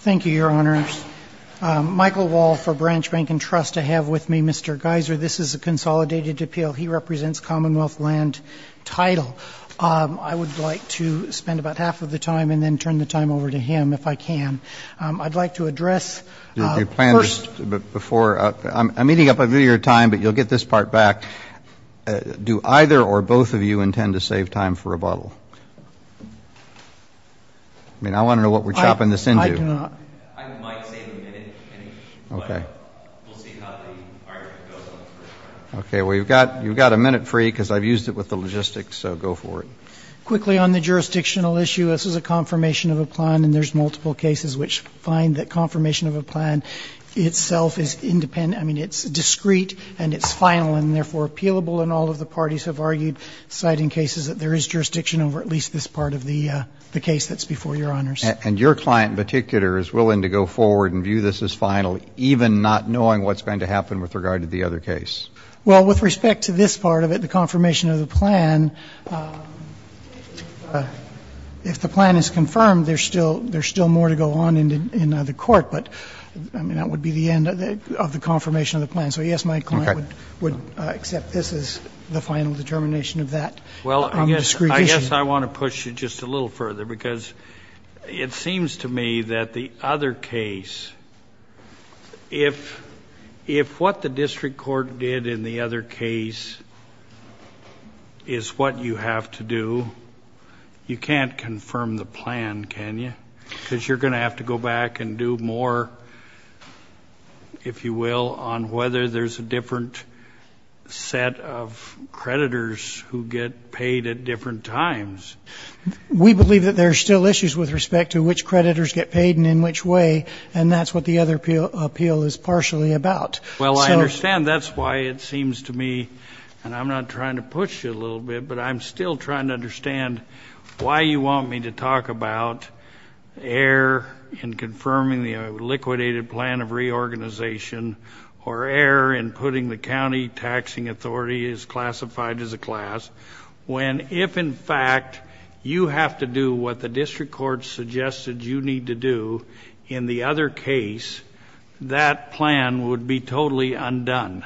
Thank you, Your Honor. Michael Wall for Branch Bank and Trust. I have with me Mr. Geiser. This is a consolidated appeal. He represents Commonwealth land title. I would like to spend about half of the time and then turn the time over to him if I can. I'd like to address... I'm eating up your time but you'll get this part back. Do either or both of you intend to save time for rebuttal? I mean I do not. I might save a minute, but we'll see how the argument goes. Okay, well you've got a minute free because I've used it with the logistics, so go for it. Quickly on the jurisdictional issue, this is a confirmation of a plan and there's multiple cases which find that confirmation of a plan itself is independent. I mean it's discrete and it's final and therefore appealable and all of the parties have argued, citing cases that there is jurisdiction over at least this part of the the case that's before Your Honors. And your client in particular is willing to go forward and view this as final even not knowing what's going to happen with regard to the other case? Well with respect to this part of it, the confirmation of the plan, if the plan is confirmed there's still there's still more to go on in the court, but I mean that would be the end of the confirmation of the plan. So yes my client would accept this as the final determination of that. Well I guess I want to push it just a little further because it seems to me that the other case, if what the district court did in the other case is what you have to do, you can't confirm the plan can you? Because you're going to have to go back and do more, if you will, on whether there's a different set of creditors who get paid at different times. We believe that there's still issues with respect to which creditors get paid and in which way and that's what the other appeal is partially about. Well I understand that's why it seems to me, and I'm not trying to push it a little bit, but I'm still trying to understand why you want me to talk about error in confirming the liquidated plan of reorganization or error in putting the county taxing the class, when if in fact you have to do what the district court suggested you need to do in the other case, that plan would be totally undone.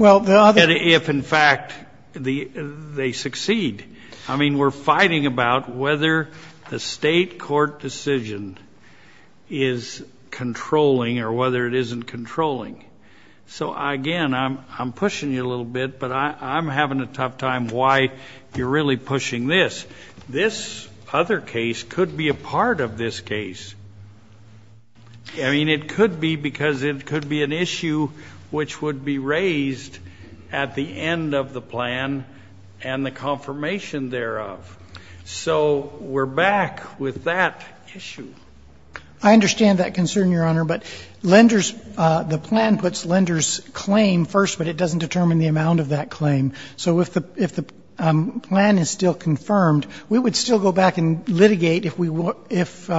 If in fact they succeed. I mean we're fighting about whether the state court decision is controlling or whether it isn't controlling. So again I'm pushing you a little bit but I'm having a tough time why you're really pushing this. This other case could be a part of this case. I mean it could be because it could be an issue which would be raised at the end of the plan and the confirmation thereof. So we're back with that issue. I understand that concern, Your Honor, but lenders, the plan puts lenders' claim first but it doesn't determine the amount of that claim. So if the plan is still confirmed, we would still go back and litigate if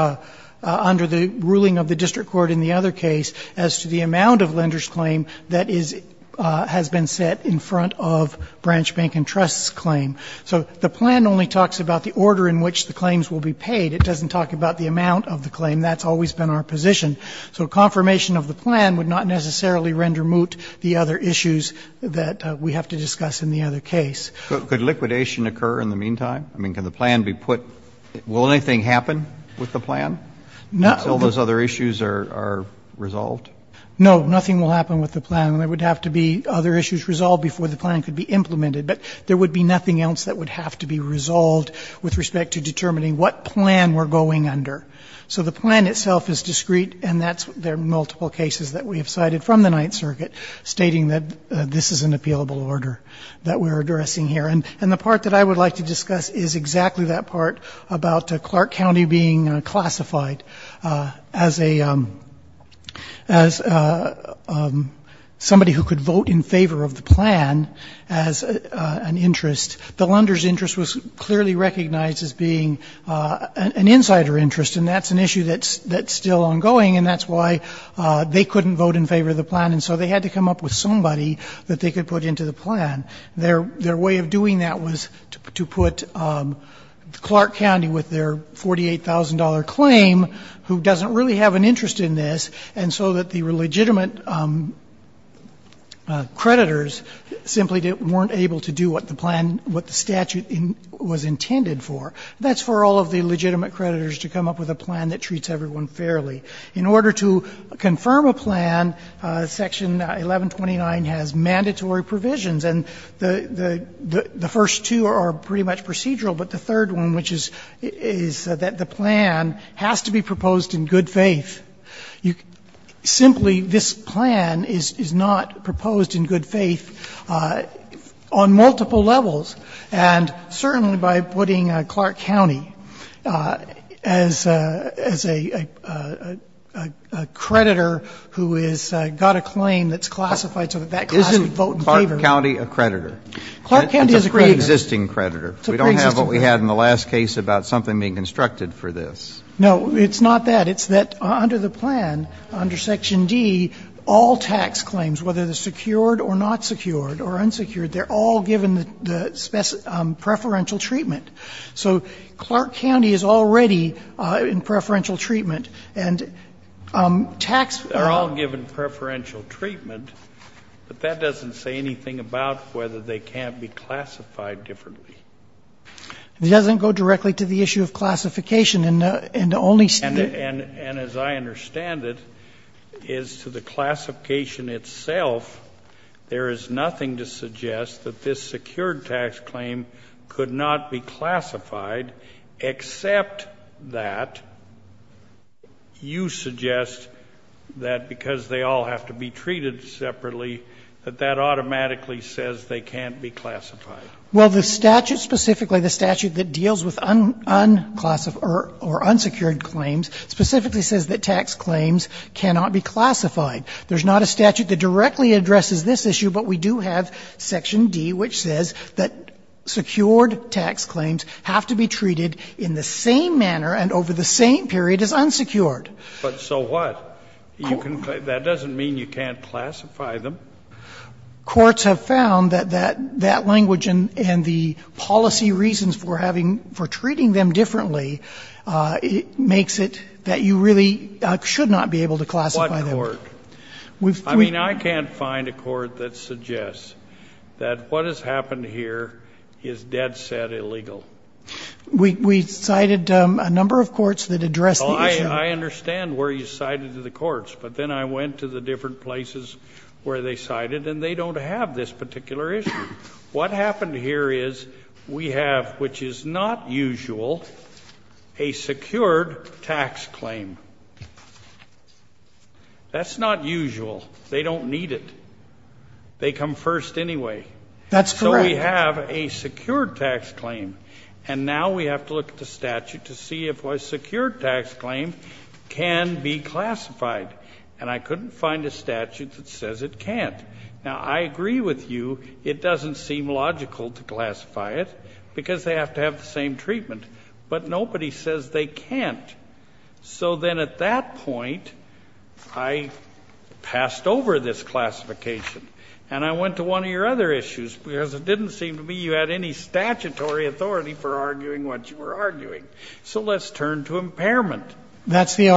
under the ruling of the district court in the other case as to the amount of lenders' claim that has been set in front of Branch Bank and Trust's claim. So the plan only talks about the order in which the claims will be paid. It doesn't talk about the amount of the claim. That's always been our position. So confirmation of the plan would not necessarily render moot the other issues that we have to discuss in the other case. Could liquidation occur in the meantime? I mean can the plan be put, will anything happen with the plan until those other issues are resolved? No. Nothing will happen with the plan. There would have to be other issues resolved before the plan could be implemented. But there would be nothing else that would have to be resolved with respect to determining what plan we're going under. So the plan itself is discreet and that's, there are multiple cases that we have cited from the Ninth Circuit stating that this is an appealable order that we're addressing here. And the part that I would like to discuss is exactly that part about Clark County being classified as a, as somebody who could vote in favor of the plan as an interest, the lenders' interest was clearly recognized as being an insider interest and that's an issue that's still ongoing and that's why they couldn't vote in favor of the plan and so they had to come up with somebody that they could put into the plan. Their way of doing that was to put Clark County with their $48,000 claim, who doesn't really have an interest in this, and so that the legitimate creditors simply weren't able to do what the plan, what the statute was intended for. That's for all of the legitimate creditors to come up with a plan that treats everyone fairly. In order to confirm a plan, Section 1129 has mandatory provisions and the first two are pretty much procedural, but the third one, which is that the plan has to be proposed in good faith. Simply this plan is not proposed in good faith on multiple levels. And certainly by putting Clark County as a creditor who has got a claim that's classified so that that class would vote in favor of the plan. Is Clark County a creditor? Clark County is a creditor. It's a preexisting creditor. We don't have what we had in the last case about something being constructed for this. No, it's not that. It's that under the plan, under Section D, all tax claims, whether they're secured or not secured or unsecured, they're all given preferential treatment. So Clark County is already in preferential treatment, and tax — They're all given preferential treatment, but that doesn't say anything about whether they can't be classified differently. It doesn't go directly to the issue of classification, and only — And as I understand it, is to the classification itself, there is nothing to suggest that this secured tax claim could not be classified, except that you suggest that because they all have to be treated separately, that that automatically says they can't be classified. Well, the statute, specifically the statute that deals with unclassified claims or unsecured claims, specifically says that tax claims cannot be classified. There's not a statute that directly addresses this issue, but we do have Section D, which says that secured tax claims have to be treated in the same manner and over the same period as unsecured. But so what? That doesn't mean you can't classify them. Courts have found that that language and the policy reasons for having — for treating them differently, it makes it that you really should not be able to classify them. What court? We've — I mean, I can't find a court that suggests that what has happened here is dead-set illegal. We cited a number of courts that address the issue. I understand where you cited the courts, but then I went to the different places where they cited, and they don't have this particular issue. What happened here is we have, which is not usual, a secured tax claim. That's not usual. They don't need it. They come first anyway. That's correct. So we have a secured tax claim. And now we have to look at the statute to see if a secured tax claim can be classified. And I couldn't find a statute that says it can't. Now, I agree with you. It doesn't seem logical to classify it because they have to have the same treatment. But nobody says they can't. So then at that point, I passed over this classification, and I went to one of your other issues because it didn't seem to me you had any statutory authority for arguing what you were arguing. So let's turn to impairment. That's the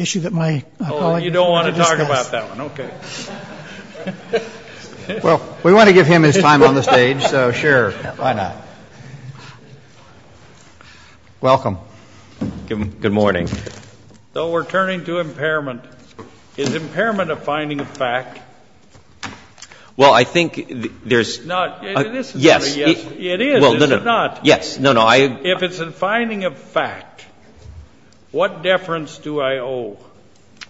issue that my colleague discussed. Oh, you don't want to talk about that one. Okay. Well, we want to give him his time on the stage, so sure, why not? Welcome. Good morning. So we're turning to impairment. Is impairment a finding of fact? Well, I think there's not. Yes. It is. Is it not? Yes. No, no. If it's a finding of fact, what deference do I owe?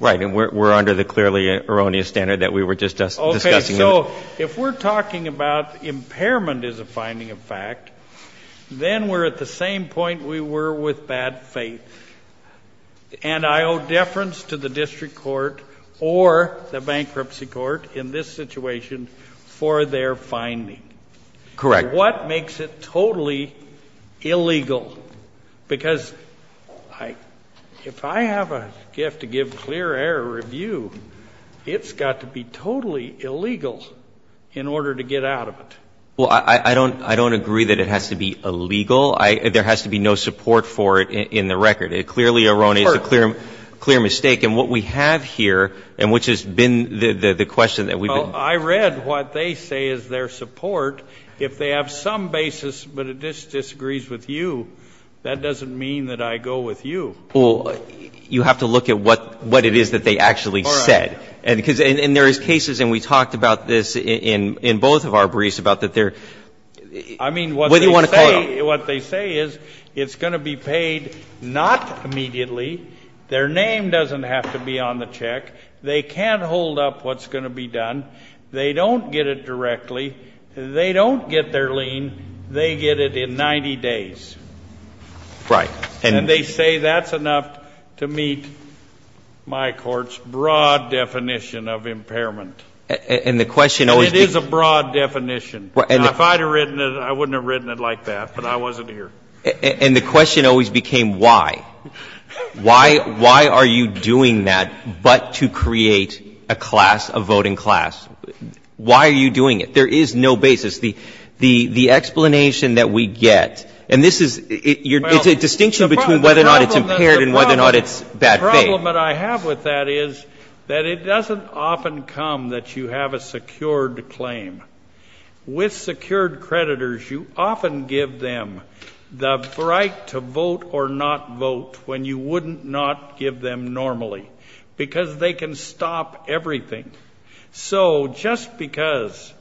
Right. And we're under the clearly erroneous standard that we were just discussing. Okay. So if we're talking about impairment as a finding of fact, then we're at the same point we were with bad faith. And I owe deference to the district court or the bankruptcy court in this situation for their finding. Correct. What makes it totally illegal? Because if I have a gift to give clear error review, it's got to be totally illegal in order to get out of it. Well, I don't agree that it has to be illegal. There has to be no support for it in the record. It clearly erroneous, a clear mistake. And what we have here, and which has been the question that we've been. Well, I read what they say is their support. If they have some basis, but it disagrees with you, that doesn't mean that I go with you. Well, you have to look at what it is that they actually said. All right. And there is cases, and we talked about this in both of our briefs, about that they're. I mean, what they say is it's going to be paid not immediately. Their name doesn't have to be on the check. They can't hold up what's going to be done. They don't get it directly. They don't get their lien. They get it in 90 days. Right. And they say that's enough to meet my court's broad definition of impairment. And the question always. It is a broad definition. If I had written it, I wouldn't have written it like that, but I wasn't here. And the question always became why. Why are you doing that but to create a class, a voting class? Why are you doing it? There is no basis. The explanation that we get, and this is, it's a distinction between whether or not it's impaired and whether or not it's bad faith. The problem that I have with that is that it doesn't often come that you have a secured claim. With secured creditors, you often give them the right to vote or not vote when you wouldn't not give them normally, because they can stop everything. So just because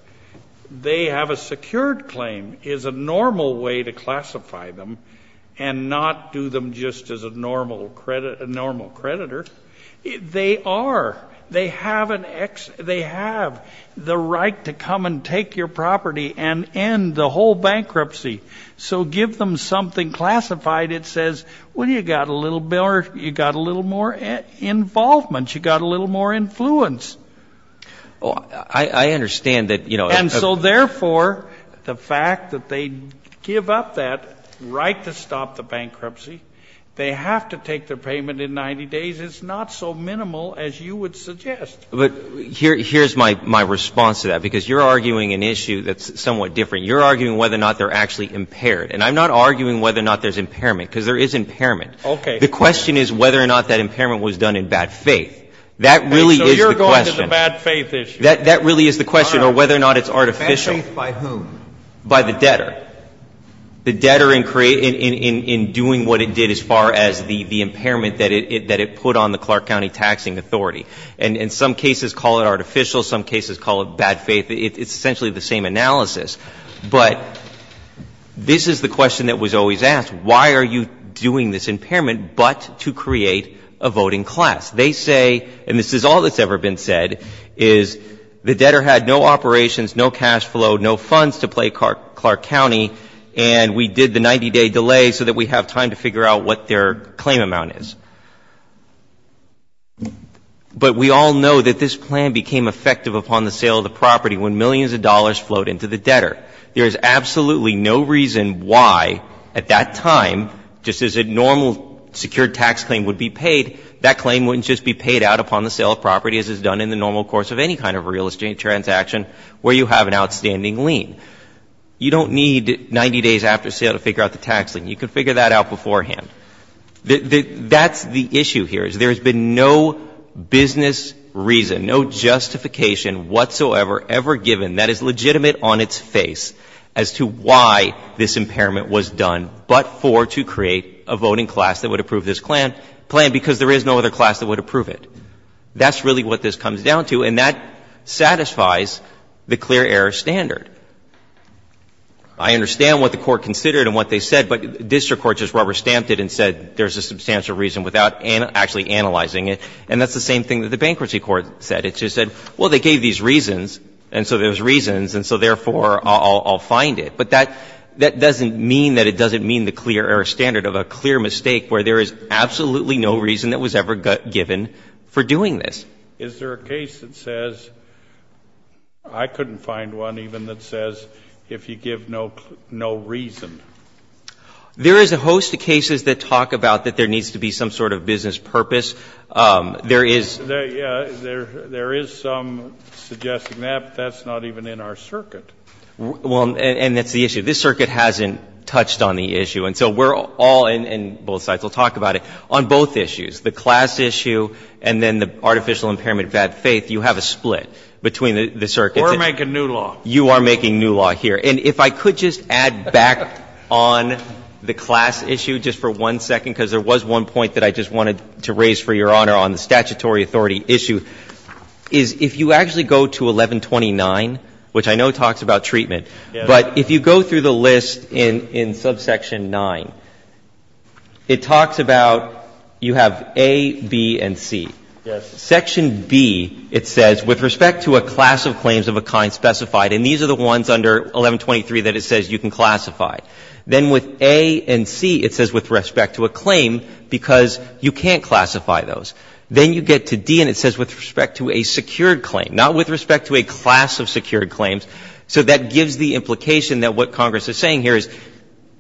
they have a secured claim is a normal way to classify them and not do them just as a normal creditor. They are. They have the right to come and take your property and end the whole bankruptcy. So give them something classified that says, well, you got a little more involvement. You got a little more influence. Well, I understand that, you know. And so, therefore, the fact that they give up that right to stop the bankruptcy, they have to take their payment in 90 days. It's not so minimal as you would suggest. But here's my response to that, because you're arguing an issue that's somewhat different. You're arguing whether or not they're actually impaired. And I'm not arguing whether or not there's impairment, because there is impairment. Okay. The question is whether or not that impairment was done in bad faith. That really is the question. Okay. So you're going to the bad faith issue. That really is the question, or whether or not it's artificial. Bad faith by whom? By the debtor. The debtor in doing what it did as far as the impairment that it put on the Clark County Taxing Authority. And some cases call it artificial. Some cases call it bad faith. It's essentially the same analysis. But this is the question that was always asked. Why are you doing this impairment but to create a voting class? They say, and this is all that's ever been said, is the debtor had no operations, no cash flow, no funds to play Clark County, and we did the 90-day delay so that we have time to figure out what their claim amount is. But we all know that this plan became effective upon the sale of the property when millions of dollars flowed into the debtor. There is absolutely no reason why at that time, just as a normal secured tax claim would be paid, that claim wouldn't just be paid out upon the sale of property as is done in the normal course of any kind of real estate transaction where you have an outstanding lien. You don't need 90 days after sale to figure out the tax lien. You could figure that out beforehand. That's the issue here, is there has been no business reason, no justification whatsoever, ever given that is legitimate on its face as to why this impairment was done, but for to create a voting class that would approve this plan because there is no other class that would approve it. That's really what this comes down to, and that satisfies the clear error standard. I understand what the Court considered and what they said, but district court just rubber-stamped it and said there's a substantial reason without actually analyzing it. And that's the same thing that the bankruptcy court said. It just said, well, they gave these reasons, and so there's reasons, and so therefore I'll find it. But that doesn't mean that it doesn't mean the clear error standard of a clear mistake where there is absolutely no reason that was ever given for doing this. Is there a case that says, I couldn't find one even that says if you give no reason? There is a host of cases that talk about that there needs to be some sort of business purpose. There is some suggesting that, but that's not even in our circuit. Well, and that's the issue. This circuit hasn't touched on the issue. And so we're all, and both sides will talk about it, on both issues, the class issue and then the artificial impairment of bad faith. You have a split between the circuits. We're making new law. You are making new law here. And if I could just add back on the class issue just for one second, because there was one point that I just wanted to raise for Your Honor on the statutory authority issue, is if you actually go to 1129, which I know talks about treatment, but if you go through the list in subsection 9, it talks about you have A, B, and C. Section B, it says, with respect to a class of claims of a kind specified, and these are the ones under 1123 that it says you can classify. Then with A and C, it says with respect to a claim, because you can't classify those. Then you get to D and it says with respect to a secured claim, not with respect to a class of secured claims. So that gives the implication that what Congress is saying here is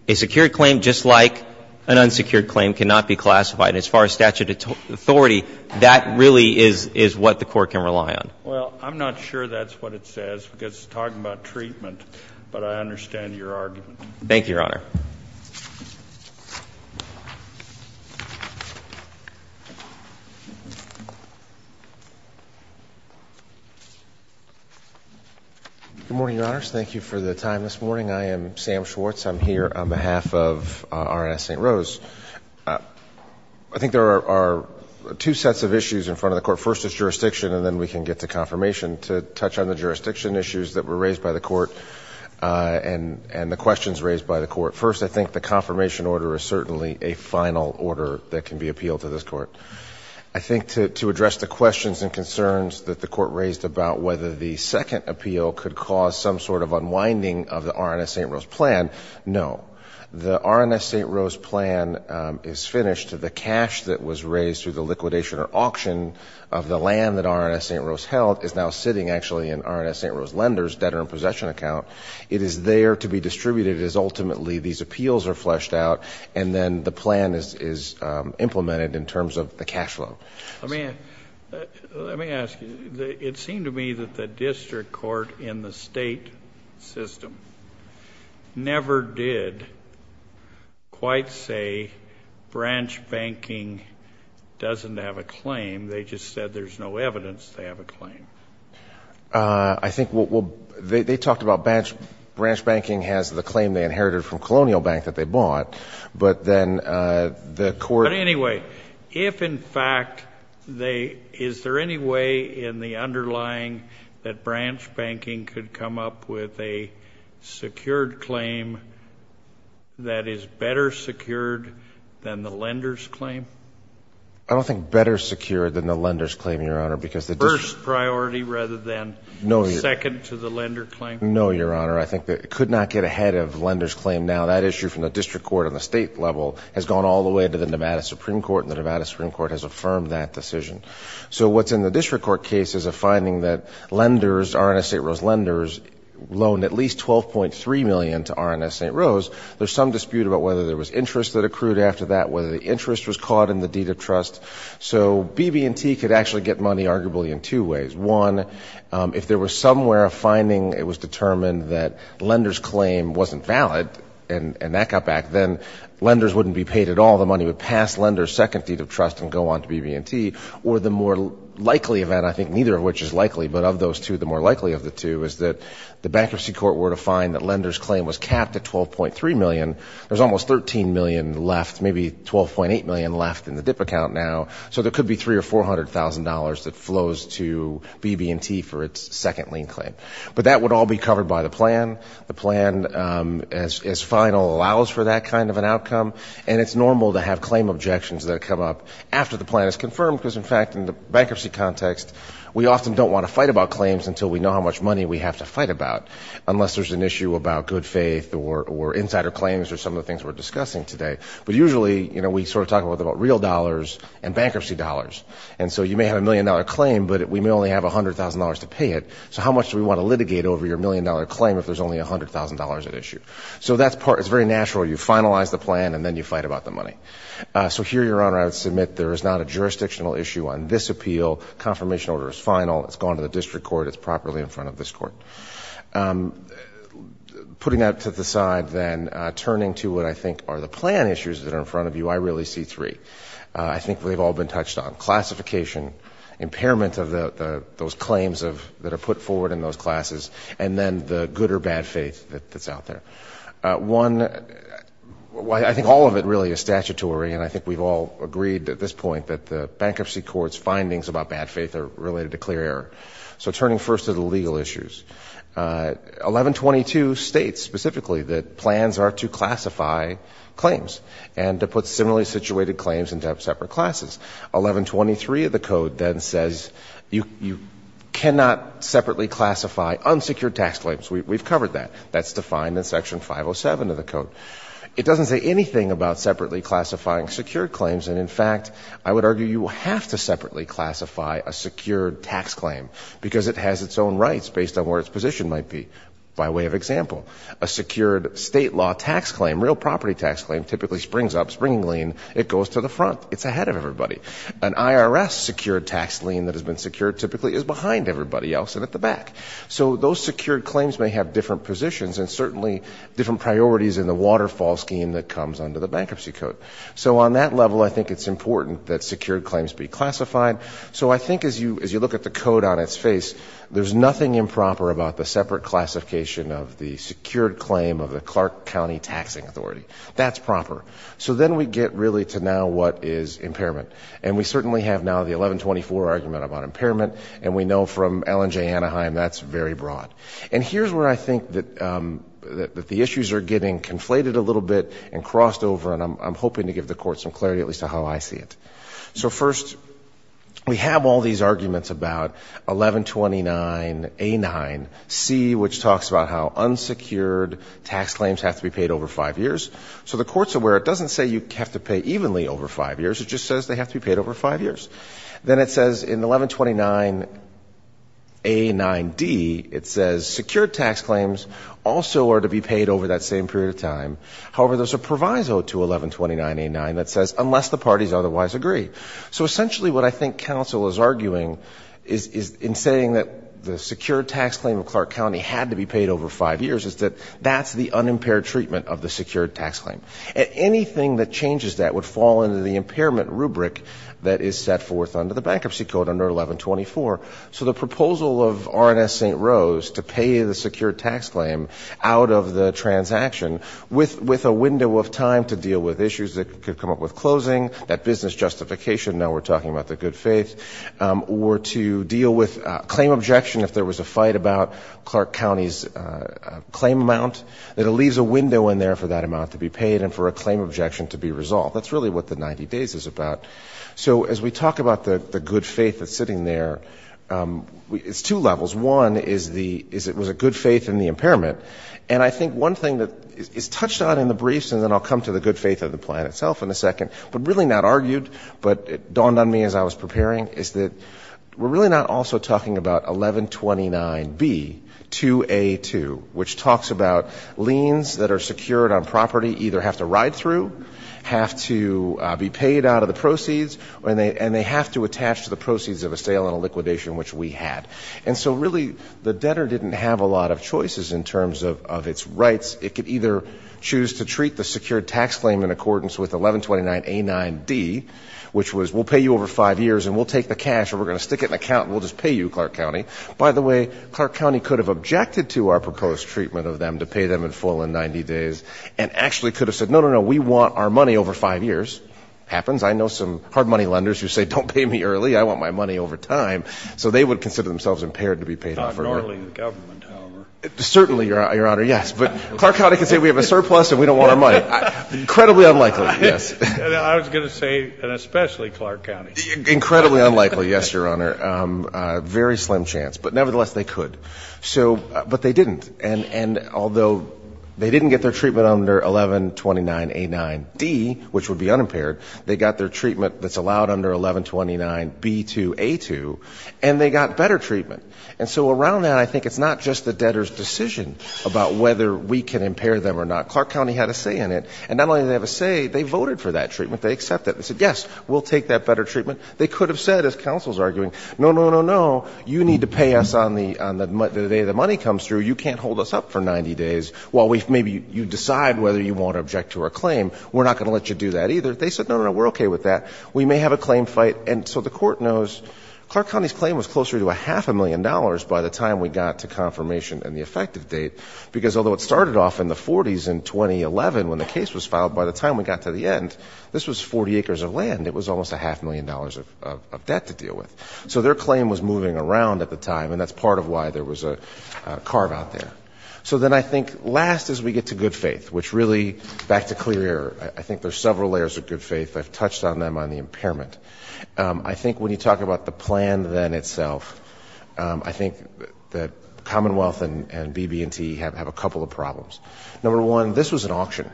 a secured claim, just like an unsecured claim, cannot be classified. And as far as statutory authority, that really is what the Court can rely on. Well, I'm not sure that's what it says, because it's talking about treatment, Thank you, Your Honor. Good morning, Your Honors. Thank you for the time this morning. I am Sam Schwartz. I'm here on behalf of RNS St. Rose. I think there are two sets of issues in front of the Court. First is jurisdiction, and then we can get to confirmation to touch on the jurisdiction issues that were raised by the Court and the questions raised by the Court for the First, I think the confirmation order is certainly a final order that can be appealed to this Court. I think to address the questions and concerns that the Court raised about whether the second appeal could cause some sort of unwinding of the RNS St. Rose plan, no. The RNS St. Rose plan is finished. The cash that was raised through the liquidation or auction of the land that RNS St. Rose held is now sitting, actually, in RNS St. Rose lenders' debtor in possession account. It is there to be distributed as ultimately these appeals are fleshed out, and then the plan is implemented in terms of the cash flow. Let me ask you. It seemed to me that the district court in the state system never did quite say branch banking doesn't have a claim. I think they talked about branch banking has the claim they inherited from Colonial Bank that they bought, but then the court — But anyway, if in fact they — is there any way in the underlying that branch banking could come up with a secured claim that is better secured than the lenders' claim? I don't think better secured than the lenders' claim, Your Honor, because the first priority rather than second to the lender claim. No, Your Honor. I think they could not get ahead of lenders' claim now. That issue from the district court on the state level has gone all the way to the Nevada Supreme Court, and the Nevada Supreme Court has affirmed that decision. So what's in the district court case is a finding that lenders, RNS St. Rose lenders, loaned at least $12.3 million to RNS St. Rose. There's some dispute about whether there was interest that accrued after that, whether the interest was caught in the deed of trust. So BB&T could actually get money arguably in two ways. One, if there was somewhere a finding, it was determined that lenders' claim wasn't valid and that got back, then lenders wouldn't be paid at all. The money would pass lenders' second deed of trust and go on to BB&T. Or the more likely event, I think neither of which is likely, but of those two, the more likely of the two is that the bankruptcy court were to find that lenders' claim was capped at $12.3 million. There's almost $13 million left, maybe $12.8 million left in the dip account now, so there could be $300,000 or $400,000 that flows to BB&T for its second lien claim. But that would all be covered by the plan. The plan, as final, allows for that kind of an outcome. And it's normal to have claim objections that come up after the plan is confirmed because, in fact, in the bankruptcy context, we often don't want to fight about claims until we know how much money we have to fight about, unless there's an issue about good faith or insider claims or some of the things we're discussing today. But usually, you know, we sort of talk about real dollars and bankruptcy dollars. And so you may have a million-dollar claim, but we may only have $100,000 to pay it, so how much do we want to litigate over your million-dollar claim if there's only $100,000 at issue? So that's part of it. It's very natural. You finalize the plan, and then you fight about the money. So here, Your Honor, I would submit there is not a jurisdictional issue on this appeal. Confirmation order is final. It's gone to the district court. It's properly in front of this court. Putting that to the side, then, turning to what I think are the plan issues that are in front of you, I really see three. I think they've all been touched on. Classification, impairment of those claims that are put forward in those classes, and then the good or bad faith that's out there. One, I think all of it really is statutory, and I think we've all agreed at this point that the bankruptcy court's findings about bad faith are related to clear error. So turning first to the legal issues, 1122 states specifically that plans are to classify claims and to put similarly situated claims into separate classes. 1123 of the code then says you cannot separately classify unsecured tax claims. We've covered that. That's defined in Section 507 of the code. It doesn't say anything about separately classifying secured claims, and, in I would argue you have to separately classify a secured tax claim because it has its own rights based on where its position might be, by way of example. A secured state law tax claim, real property tax claim, typically springs up, springing lean, it goes to the front. It's ahead of everybody. An IRS secured tax lien that has been secured typically is behind everybody else and at the back. So those secured claims may have different positions and certainly different priorities in the waterfall scheme that comes under the bankruptcy code. So on that level I think it's important that secured claims be classified. So I think as you look at the code on its face, there's nothing improper about the separate classification of the secured claim of the Clark County Taxing Authority. That's proper. So then we get really to now what is impairment. And we certainly have now the 1124 argument about impairment, and we know from Allen J. Anaheim that's very broad. And here's where I think that the issues are getting conflated a little bit and I'm hoping to give the court some clarity at least on how I see it. So first, we have all these arguments about 1129A9C, which talks about how unsecured tax claims have to be paid over five years. So the court's aware it doesn't say you have to pay evenly over five years. It just says they have to be paid over five years. Then it says in 1129A9D, it says secured tax claims also are to be paid over that same period of time. However, there's a proviso to 1129A9 that says unless the parties otherwise agree. So essentially what I think counsel is arguing is in saying that the secured tax claim of Clark County had to be paid over five years is that that's the unimpaired treatment of the secured tax claim. Anything that changes that would fall into the impairment rubric that is set forth under the Bankruptcy Code under 1124. So the proposal of R&S St. Rose to pay the secured tax claim out of the transaction with a window of time to deal with issues that could come up with closing, that business justification, now we're talking about the good faith, or to deal with claim objection if there was a fight about Clark County's claim amount, that it leaves a window in there for that amount to be paid and for a claim objection to be resolved. That's really what the 90 days is about. So as we talk about the good faith that's sitting there, it's two levels. One is it was a good faith in the impairment. And I think one thing that is touched on in the briefs, and then I'll come to the good faith of the plan itself in a second, but really not argued, but it dawned on me as I was preparing, is that we're really not also talking about 1129B, 2A2, which talks about liens that are secured on property either have to ride through, have to be paid out of the proceeds, and they have to attach to the proceeds of a sale and a liquidation, which we had. And so really the debtor didn't have a lot of choices in terms of its rights. It could either choose to treat the secured tax claim in accordance with 1129A9D, which was we'll pay you over five years and we'll take the cash or we're going to stick it in an account and we'll just pay you, Clark County. By the way, Clark County could have objected to our proposed treatment of them to pay them in full in 90 days and actually could have said no, no, no, we want our money over five years. Happens. I know some hard money lenders who say don't pay me early. I want my money over time. So they would consider themselves impaired to be paid in full. Not normally the government, however. Certainly, Your Honor, yes. But Clark County can say we have a surplus and we don't want our money. Incredibly unlikely, yes. I was going to say and especially Clark County. Incredibly unlikely, yes, Your Honor. Very slim chance. But nevertheless, they could. But they didn't. And although they didn't get their treatment under 1129A9D, which would be unimpaired, they got their treatment that's allowed under 1129B2A2 and they got better treatment. And so around that I think it's not just the debtor's decision about whether we can impair them or not. Clark County had a say in it. And not only did they have a say, they voted for that treatment. They accepted it. They said, yes, we'll take that better treatment. They could have said, as counsel is arguing, no, no, no, no, you need to pay us on the day the money comes through. You can't hold us up for 90 days while maybe you decide whether you want to object to our claim. We're not going to let you do that either. They said, no, no, no, we're okay with that. We may have a claim fight. And so the court knows Clark County's claim was closer to a half a million dollars by the time we got to confirmation and the effective date. Because although it started off in the 40s in 2011 when the case was filed, by the time we got to the end, this was 40 acres of land. It was almost a half million dollars of debt to deal with. So their claim was moving around at the time. And that's part of why there was a carve out there. So then I think last is we get to good faith, which really, back to clear error, I think there's several layers of good faith. I've touched on them on the impairment. I think when you talk about the plan then itself, I think that Commonwealth and BB&T have a couple of problems. Number one, this was an auction.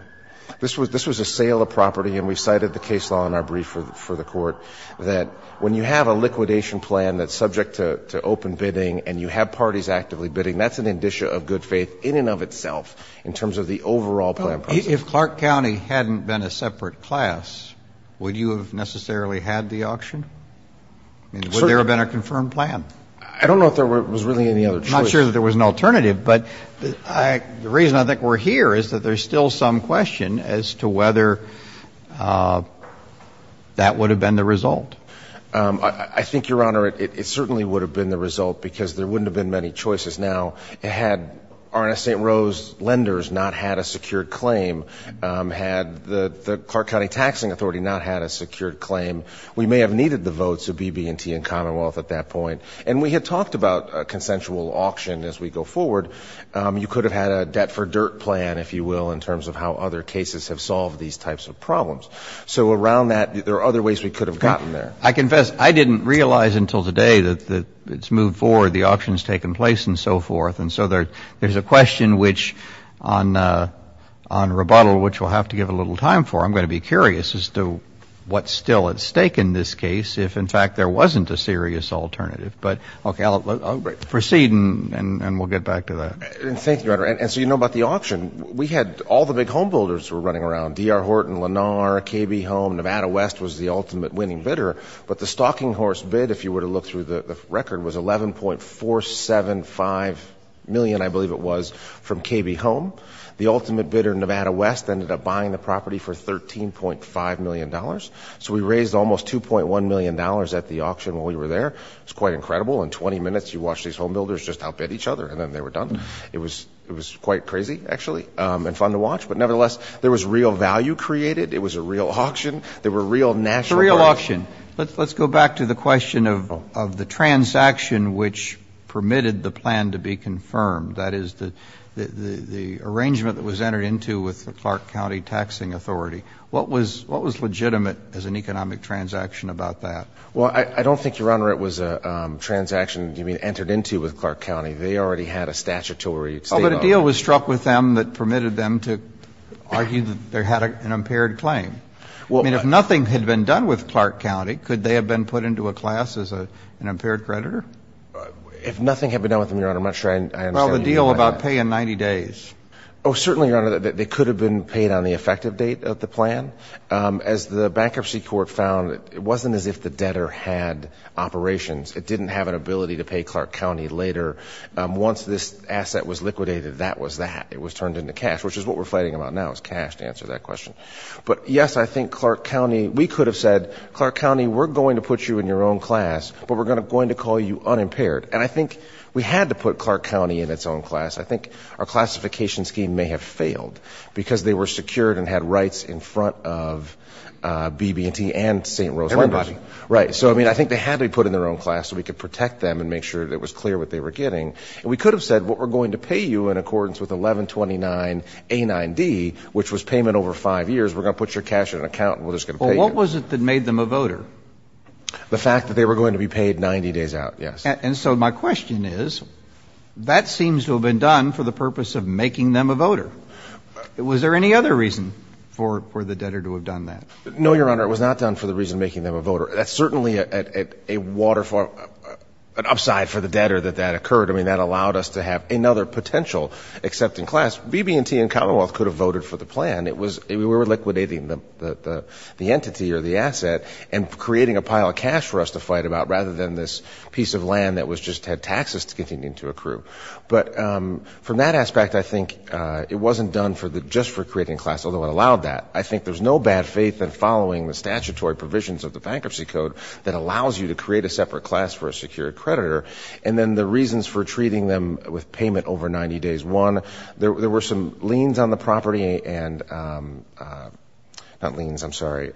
This was a sale of property, and we cited the case law in our brief for the court, that when you have a liquidation plan that's subject to open bidding and you have parties actively bidding, that's an indicia of good faith in and of itself in terms of the overall plan process. If Clark County hadn't been a separate class, would you have necessarily had the auction? I mean, would there have been a confirmed plan? I don't know if there was really any other choice. I'm not sure that there was an alternative. But the reason I think we're here is that there's still some question as to whether that would have been the result. I think, Your Honor, it certainly would have been the result because there wouldn't have been many choices. Now, had R&S St. Rose lenders not had a secured claim, had the Clark County Taxing Authority not had a secured claim, we may have needed the votes of BB&T and Commonwealth at that point. And we had talked about a consensual auction as we go forward. You could have had a debt-for-dirt plan, if you will, in terms of how other cases have solved these types of problems. So around that, there are other ways we could have gotten there. I confess I didn't realize until today that it's moved forward, the auction's taken place, and so forth. And so there's a question on rebuttal which we'll have to give a little time for. I'm going to be curious as to what's still at stake in this case if, in fact, there wasn't a serious alternative. But, okay, I'll proceed, and we'll get back to that. Thank you, Your Honor. And so you know about the auction. All the big homebuilders were running around, D.R. Horton, Lenar, KB Home, Nevada West was the ultimate winning bidder. But the stalking horse bid, if you were to look through the record, was $11.475 million, I believe it was, from KB Home. The ultimate bidder, Nevada West, ended up buying the property for $13.5 million. So we raised almost $2.1 million at the auction while we were there. It's quite incredible. In 20 minutes, you watch these homebuilders just outbid each other, and then they were done. It was quite crazy, actually, and fun to watch. But, nevertheless, there was real value created. It was a real auction. There were real national brands. A real auction. Let's go back to the question of the transaction which permitted the plan to be confirmed, that is, the arrangement that was entered into with the Clark County Taxing Authority. What was legitimate as an economic transaction about that? Well, I don't think, Your Honor, it was a transaction, you mean, entered into with Clark County. They already had a statutory state of it. Oh, but a deal was struck with them that permitted them to argue that they had an impaired claim. I mean, if nothing had been done with Clark County, could they have been put into a class as an impaired creditor? If nothing had been done with them, Your Honor, I'm not sure I understand what you mean by that. Well, the deal about pay in 90 days. Oh, certainly, Your Honor, they could have been paid on the effective date of the plan. As the Bankruptcy Court found, it wasn't as if the debtor had operations. It didn't have an ability to pay Clark County later. Once this asset was liquidated, that was that. It was turned into cash, which is what we're fighting about now, is cash to answer that question. But, yes, I think Clark County, we could have said, Clark County, we're going to put you in your own class, but we're going to call you unimpaired. And I think we had to put Clark County in its own class. I think our classification scheme may have failed because they were secured Everybody. Right, so, I mean, I think they had to be put in their own class so we could protect them and make sure that it was clear what they were getting. And we could have said, well, we're going to pay you in accordance with 1129A9D, which was payment over five years. We're going to put your cash in an account and we're just going to pay you. Well, what was it that made them a voter? The fact that they were going to be paid 90 days out, yes. And so my question is, that seems to have been done for the purpose of making them a voter. Was there any other reason for the debtor to have done that? No, Your Honor, it was not done for the reason of making them a voter. That's certainly an upside for the debtor that that occurred. I mean, that allowed us to have another potential accepting class. BB&T and Commonwealth could have voted for the plan. We were liquidating the entity or the asset and creating a pile of cash for us to fight about rather than this piece of land that just had taxes to continue to accrue. But from that aspect, I think it wasn't done just for creating class, although it allowed that. I think there's no bad faith in following the statutory provisions of the Bankruptcy Code that allows you to create a separate class for a secured creditor. And then the reasons for treating them with payment over 90 days. One, there were some liens on the property and not liens, I'm sorry,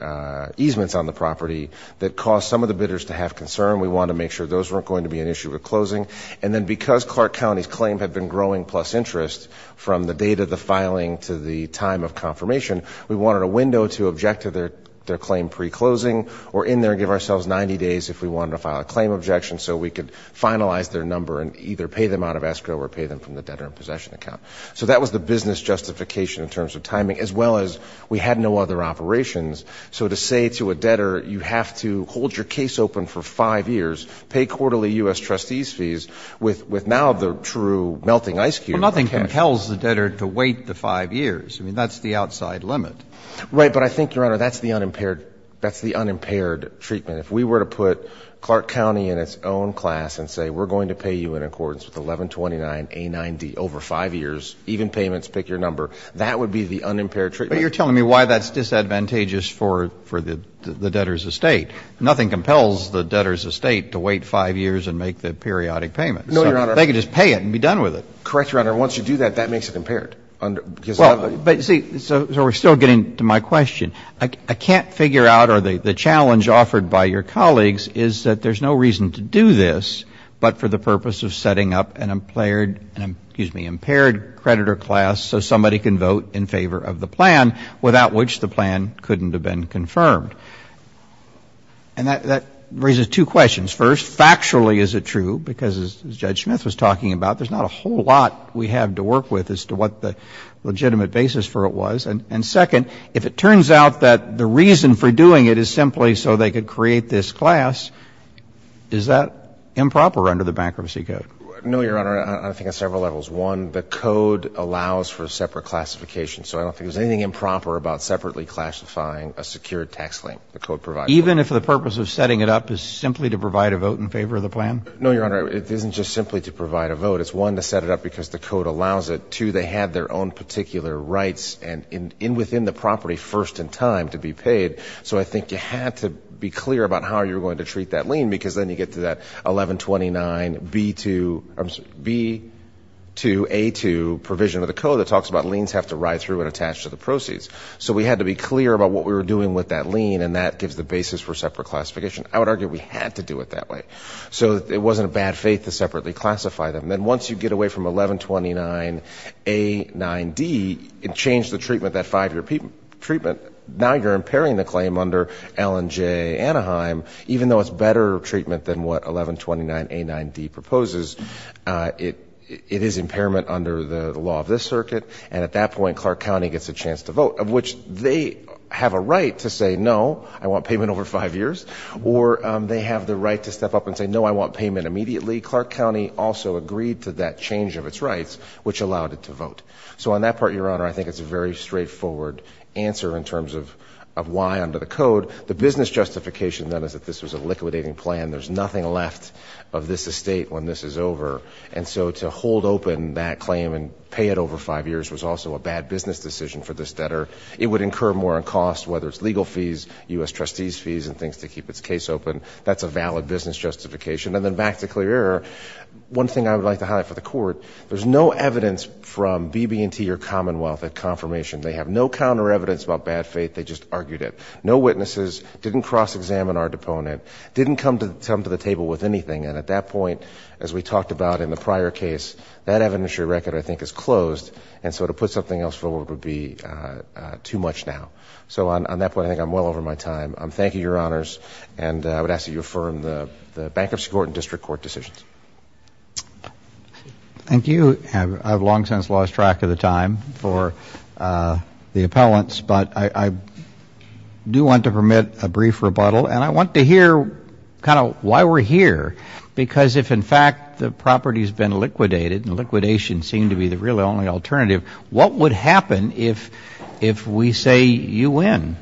easements on the property that caused some of the bidders to have concern. We wanted to make sure those weren't going to be an issue with closing. And then because Clark County's claim had been growing plus interest from the date of the filing to the time of confirmation, we wanted a window to object to their claim pre-closing or in there give ourselves 90 days if we wanted to file a claim objection so we could finalize their number and either pay them out of escrow or pay them from the debtor in possession account. So that was the business justification in terms of timing as well as we had no other operations. So to say to a debtor you have to hold your case open for five years, pay quarterly U.S. trustees fees with now the true melting ice cube. Well, nothing compels the debtor to wait the five years. I mean, that's the outside limit. Right. But I think, Your Honor, that's the unimpaired treatment. If we were to put Clark County in its own class and say we're going to pay you in accordance with 1129A9D over five years, even payments, pick your number, that would be the unimpaired treatment. But you're telling me why that's disadvantageous for the debtor's estate. Nothing compels the debtor's estate to wait five years and make the periodic payment. No, Your Honor. They could just pay it and be done with it. Correct, Your Honor. Once you do that, that makes it impaired. Well, but see, so we're still getting to my question. I can't figure out or the challenge offered by your colleagues is that there's no reason to do this but for the purpose of setting up an impaired creditor class so somebody can vote in favor of the plan, without which the plan couldn't have been confirmed. And that raises two questions. First, factually is it true? Because as Judge Smith was talking about, there's not a whole lot we have to work with as to what the legitimate basis for it was. And second, if it turns out that the reason for doing it is simply so they could create this class, is that improper under the bankruptcy code? No, Your Honor. I think on several levels. One, the code allows for separate classification, so I don't think there's anything improper about separately classifying a secured tax claim. The code provides for that. Even if the purpose of setting it up is simply to provide a vote in favor of the plan? No, Your Honor. It isn't just simply to provide a vote. It's, one, to set it up because the code allows it. Two, they had their own particular rights and within the property first in time to be paid. So I think you had to be clear about how you were going to treat that lien because then you get to that 1129B2A2 provision of the code that talks about liens have to ride through and attach to the proceeds. So we had to be clear about what we were doing with that lien and that gives the basis for separate classification. I would argue we had to do it that way so that it wasn't a bad faith to separately classify them. And then once you get away from 1129A9D and change the treatment, that five-year treatment, now you're impairing the claim under Allen J. Anaheim, even though it's better treatment than what 1129A9D proposes. It is impairment under the law of this circuit. And at that point, Clark County gets a chance to vote, of which they have a right to say, no, I want payment over five years. Or they have the right to step up and say, no, I want payment immediately. Clark County also agreed to that change of its rights, which allowed it to vote. So on that part, Your Honor, I think it's a very straightforward answer in terms of why under the code. The business justification, then, is that this was a liquidating plan. There's nothing left of this estate when this is over. And so to hold open that claim and pay it over five years was also a bad business decision for this debtor. It would incur more on costs, whether it's legal fees, U.S. trustees' fees, and things to keep its case open. That's a valid business justification. And then back to clear error, one thing I would like to highlight for the Court, there's no evidence from BB&T or Commonwealth of confirmation. They have no counter evidence about bad faith. They just argued it. No witnesses. Didn't cross-examine our deponent. Didn't come to the table with anything. And at that point, as we talked about in the prior case, that evidentiary record, I think, is closed. And so to put something else forward would be too much now. So on that point, I think I'm well over my time. Thank you, Your Honors. And I would ask that you affirm the Bankruptcy Court and District Court decisions. Thank you. I've long since lost track of the time for the appellants. But I do want to permit a brief rebuttal. And I want to hear kind of why we're here. Because if, in fact, the property's been liquidated, and liquidation seemed to be the really only alternative, what would happen if we say you win?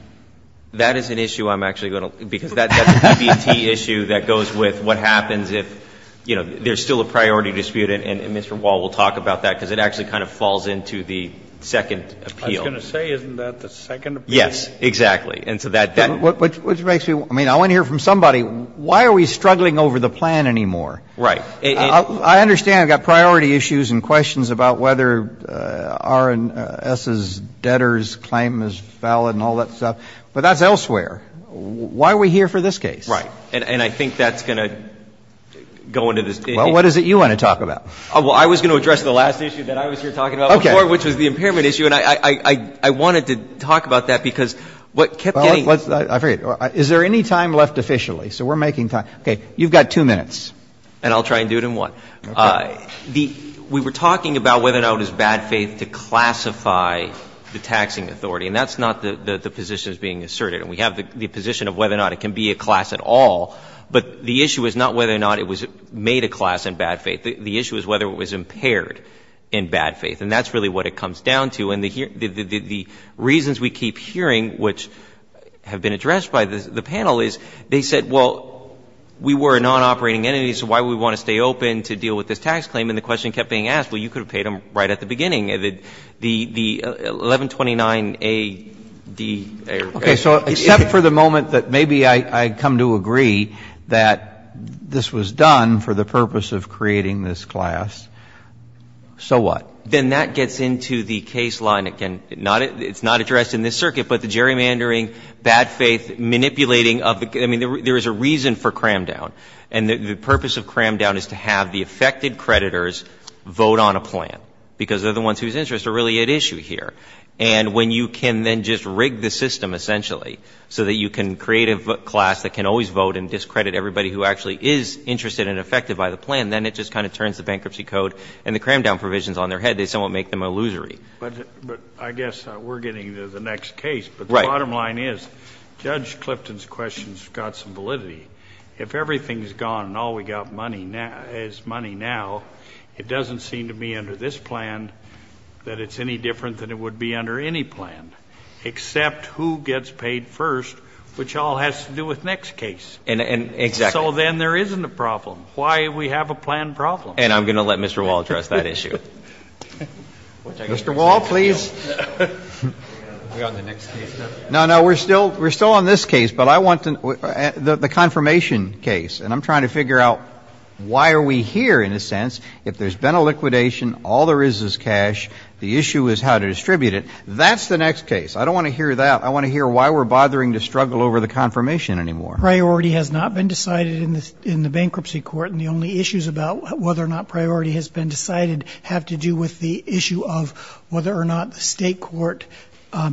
That is an issue I'm actually going to ‑‑ because that's a BB&T issue that goes with what happens if, you know, there's still a priority dispute. And Mr. Wall will talk about that because it actually kind of falls into the second appeal. I was going to say, isn't that the second appeal? Yes, exactly. Which makes me ‑‑ I mean, I want to hear from somebody, why are we struggling over the plan anymore? Right. I understand I've got priority issues and questions about whether R&S's debtor's claim is valid and all that stuff. But that's elsewhere. Why are we here for this case? Right. And I think that's going to go into this. Well, what is it you want to talk about? Well, I was going to address the last issue that I was here talking about before, which was the impairment issue. And I wanted to talk about that because what kept getting ‑‑ Is there any time left officially? So we're making time. Okay. You've got two minutes. And I'll try and do it in one. Okay. We were talking about whether or not it was bad faith to classify the taxing authority. And that's not the position that's being asserted. And we have the position of whether or not it can be a class at all. But the issue is not whether or not it was made a class in bad faith. The issue is whether it was impaired in bad faith. And that's really what it comes down to. And the reasons we keep hearing, which have been addressed by the panel, is they said, well, we were a nonoperating entity, so why would we want to stay open to deal with this tax claim? And the question kept being asked, well, you could have paid them right at the beginning. The 1129A‑D ‑‑ Okay. So except for the moment that maybe I come to agree that this was done for the purpose of creating this class, so what? Then that gets into the case line. It's not addressed in this circuit, but the gerrymandering, bad faith, manipulating of the ‑‑ I mean, there is a reason for cram down. And the purpose of cram down is to have the affected creditors vote on a plan, because they're the ones whose interests are really at issue here. And when you can then just rig the system, essentially, so that you can create a class that can always vote and discredit everybody who actually is interested and affected by the plan, then it just kind of turns the bankruptcy code and the cram down provisions on their head. They somewhat make them illusory. But I guess we're getting to the next case. Right. But the bottom line is Judge Clifton's questions have got some validity. If everything is gone and all we've got is money now, it doesn't seem to me under this plan that it's any different than it would be under any plan, except who gets paid first, which all has to do with next case. Exactly. So then there isn't a problem. Why we have a plan problem. And I'm going to let Mr. Wall address that issue. Mr. Wall, please. No, no, we're still on this case. But I want to ‑‑ the confirmation case. And I'm trying to figure out why are we here in a sense if there's been a liquidation, all there is is cash, the issue is how to distribute it. That's the next case. I don't want to hear that. I want to hear why we're bothering to struggle over the confirmation anymore. Priority has not been decided in the bankruptcy court and the only issues about whether or not priority has been decided have to do with the issue of whether or not the State court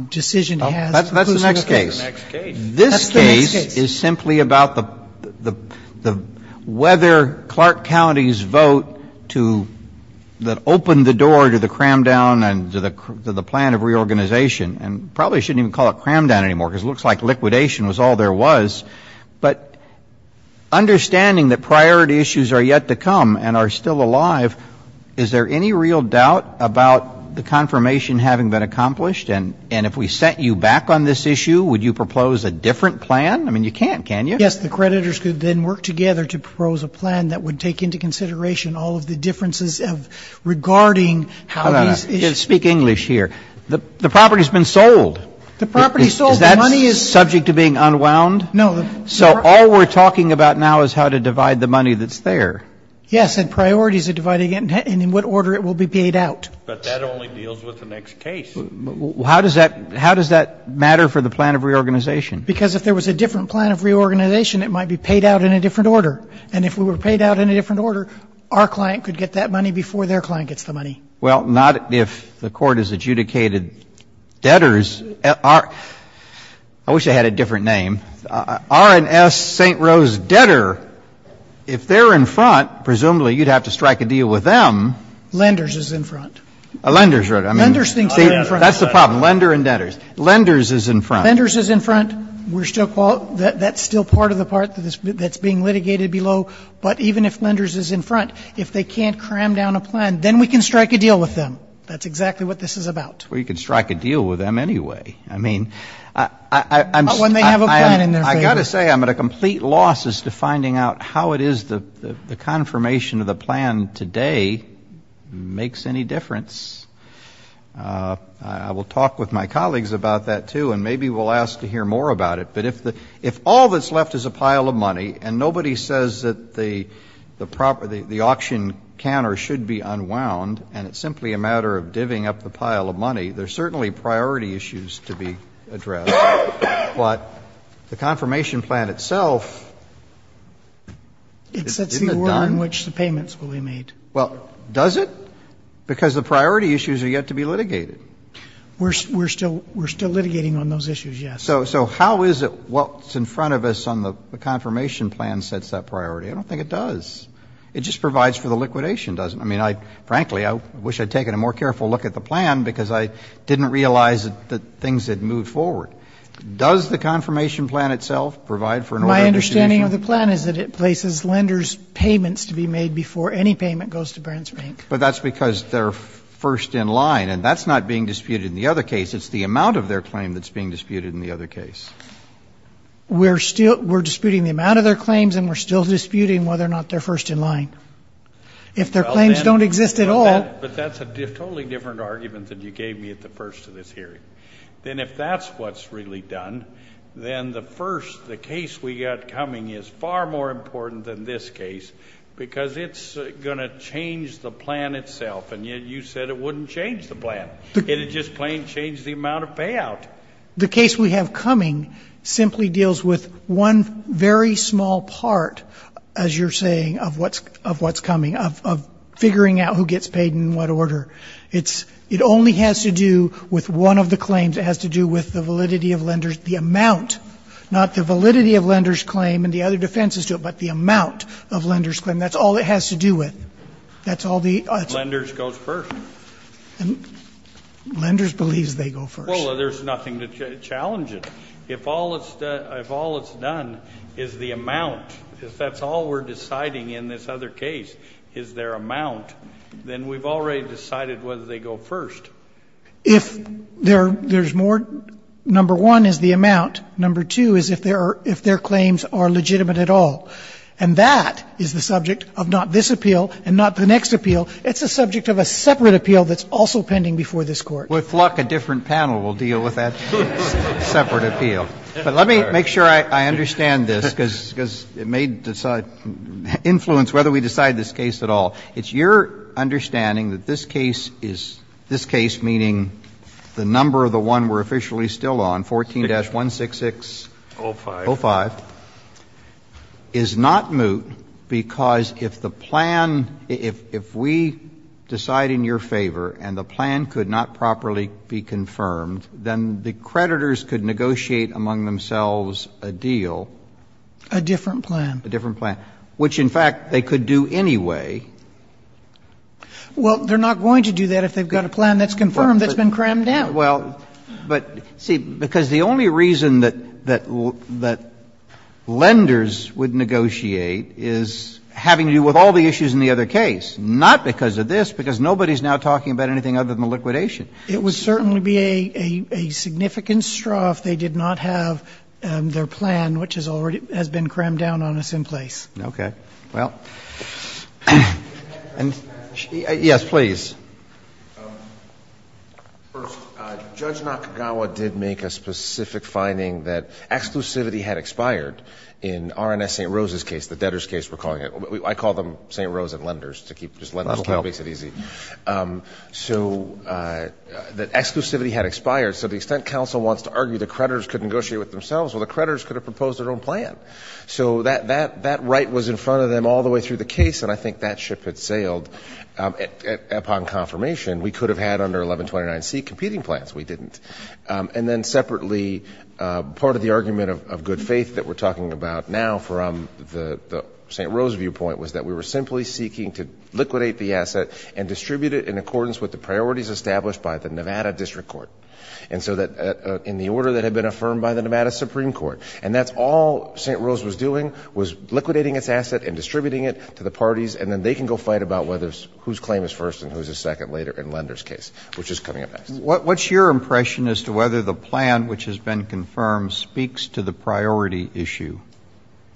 decision has. That's the next case. That's the next case. This case is simply about the ‑‑ whether Clark County's vote to open the door to the cram down and to the plan of reorganization, and probably shouldn't even call it cram down anymore because it looks like liquidation was all there was. But understanding that priority issues are yet to come and are still alive, is there any real doubt about the confirmation having been accomplished? And if we sent you back on this issue, would you propose a different plan? I mean, you can't, can you? Yes, the creditors could then work together to propose a plan that would take into consideration all of the differences regarding how these issues. Speak English here. The property has been sold. The property sold. Is that subject to being unwound? No. So all we're talking about now is how to divide the money that's there. Yes, and priority is to divide it and in what order it will be paid out. But that only deals with the next case. How does that matter for the plan of reorganization? Because if there was a different plan of reorganization, it might be paid out in a different order. And if we were paid out in a different order, our client could get that money before their client gets the money. Well, not if the Court has adjudicated debtors. I wish I had a different name. R&S St. Rose Debtor, if they're in front, presumably you'd have to strike a deal with them. Lenders is in front. Lenders, right. Lenders thinks they're in front. That's the problem. Lender and debtors. Lenders is in front. Lenders is in front. That's still part of the part that's being litigated below. But even if lenders is in front, if they can't cram down a plan, then we can strike a deal with them. That's exactly what this is about. Well, you can strike a deal with them anyway. I mean, I'm going to say I'm at a complete loss as to finding out how it is the confirmation of the plan today makes any difference. I will talk with my colleagues about that, too, and maybe we'll ask to hear more about it. But if all that's left is a pile of money and nobody says that the auction can or should be unwound and it's simply a matter of divvying up the pile of money, there's certainly priority issues to be addressed. But the confirmation plan itself is not done. It sets the order in which the payments will be made. Well, does it? Because the priority issues are yet to be litigated. We're still litigating on those issues, yes. So how is it what's in front of us on the confirmation plan sets that priority? I don't think it does. It just provides for the liquidation, doesn't it? I mean, frankly, I wish I'd taken a more careful look at the plan because I didn't realize that things had moved forward. Does the confirmation plan itself provide for an order to be made? My understanding of the plan is that it places lenders' payments to be made before any payment goes to Brands Bank. But that's because they're first in line, and that's not being disputed in the other case. It's the amount of their claim that's being disputed in the other case. We're disputing the amount of their claims, and we're still disputing whether or not they're first in line. If their claims don't exist at all. But that's a totally different argument than you gave me at the first of this hearing. Then if that's what's really done, then the first, the case we got coming is far more important than this case because it's going to change the plan itself. And yet you said it wouldn't change the plan. It would just plain change the amount of payout. The case we have coming simply deals with one very small part, as you're saying, of what's coming, of figuring out who gets paid in what order. It's, it only has to do with one of the claims. It has to do with the validity of lenders, the amount, not the validity of lenders' claim and the other defenses to it, but the amount of lenders' claim. That's all it has to do with. That's all the. Lenders goes first. And lenders believes they go first. Well, there's nothing to challenge it. If all it's done, if all it's done is the amount, if that's all we're deciding in this other case is their amount, then we've already decided whether they go first. If there's more, number one is the amount. Number two is if their claims are legitimate at all. And that is the subject of not this appeal and not the next appeal. It's the subject of a separate appeal that's also pending before this Court. Roberts. With luck, a different panel will deal with that separate appeal. But let me make sure I understand this, because it may influence whether we decide this case at all. It's your understanding that this case is, this case, meaning the number of the one we're officially still on, 14-166.05, is not moot because if the plan, if we decide in your favor and the plan could not properly be confirmed, then the creditors could negotiate among themselves a deal. A different plan. A different plan, which, in fact, they could do anyway. Well, they're not going to do that if they've got a plan that's confirmed that's been crammed down. Well, but, see, because the only reason that lenders would negotiate is having to do with all the issues in the other case, not because of this, because nobody's now talking about anything other than the liquidation. It would certainly be a significant straw if they did not have their plan, which has already been crammed down on us in place. Okay. Well, and yes, please. First, Judge Nakagawa did make a specific finding that exclusivity had expired in R&S St. Rose's case, the debtors' case, we're calling it. I call them St. Rose and lenders to keep, just lenders kind of makes it easy. That'll help. So that exclusivity had expired. So the extent counsel wants to argue the creditors could negotiate with themselves, well, the creditors could have proposed their own plan. So that right was in front of them all the way through the case, and I think that ship had sailed upon confirmation. We could have had under 1129C competing plans. We didn't. And then separately, part of the argument of good faith that we're talking about now from the St. Rose viewpoint was that we were simply seeking to liquidate the asset and distribute it in accordance with the priorities established by the Nevada District Court. And so that in the order that had been affirmed by the Nevada Supreme Court, and that's all St. Rose was doing was liquidating its asset and distributing it to the parties, and then they can go fight about whether whose claim is first and whose is second later in lenders' case, which is coming up next. What's your impression as to whether the plan, which has been confirmed, speaks to the priority issue?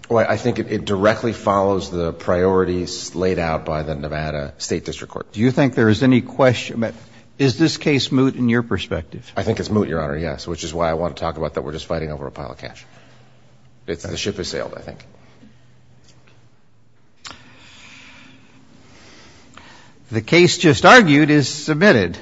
Well, I think it directly follows the priorities laid out by the Nevada State District Court. Do you think there is any question? Is this case moot in your perspective? I think it's moot, Your Honor, yes, which is why I want to talk about that we're just fighting over a pile of cash. The ship has sailed, I think. The case just argued is submitted.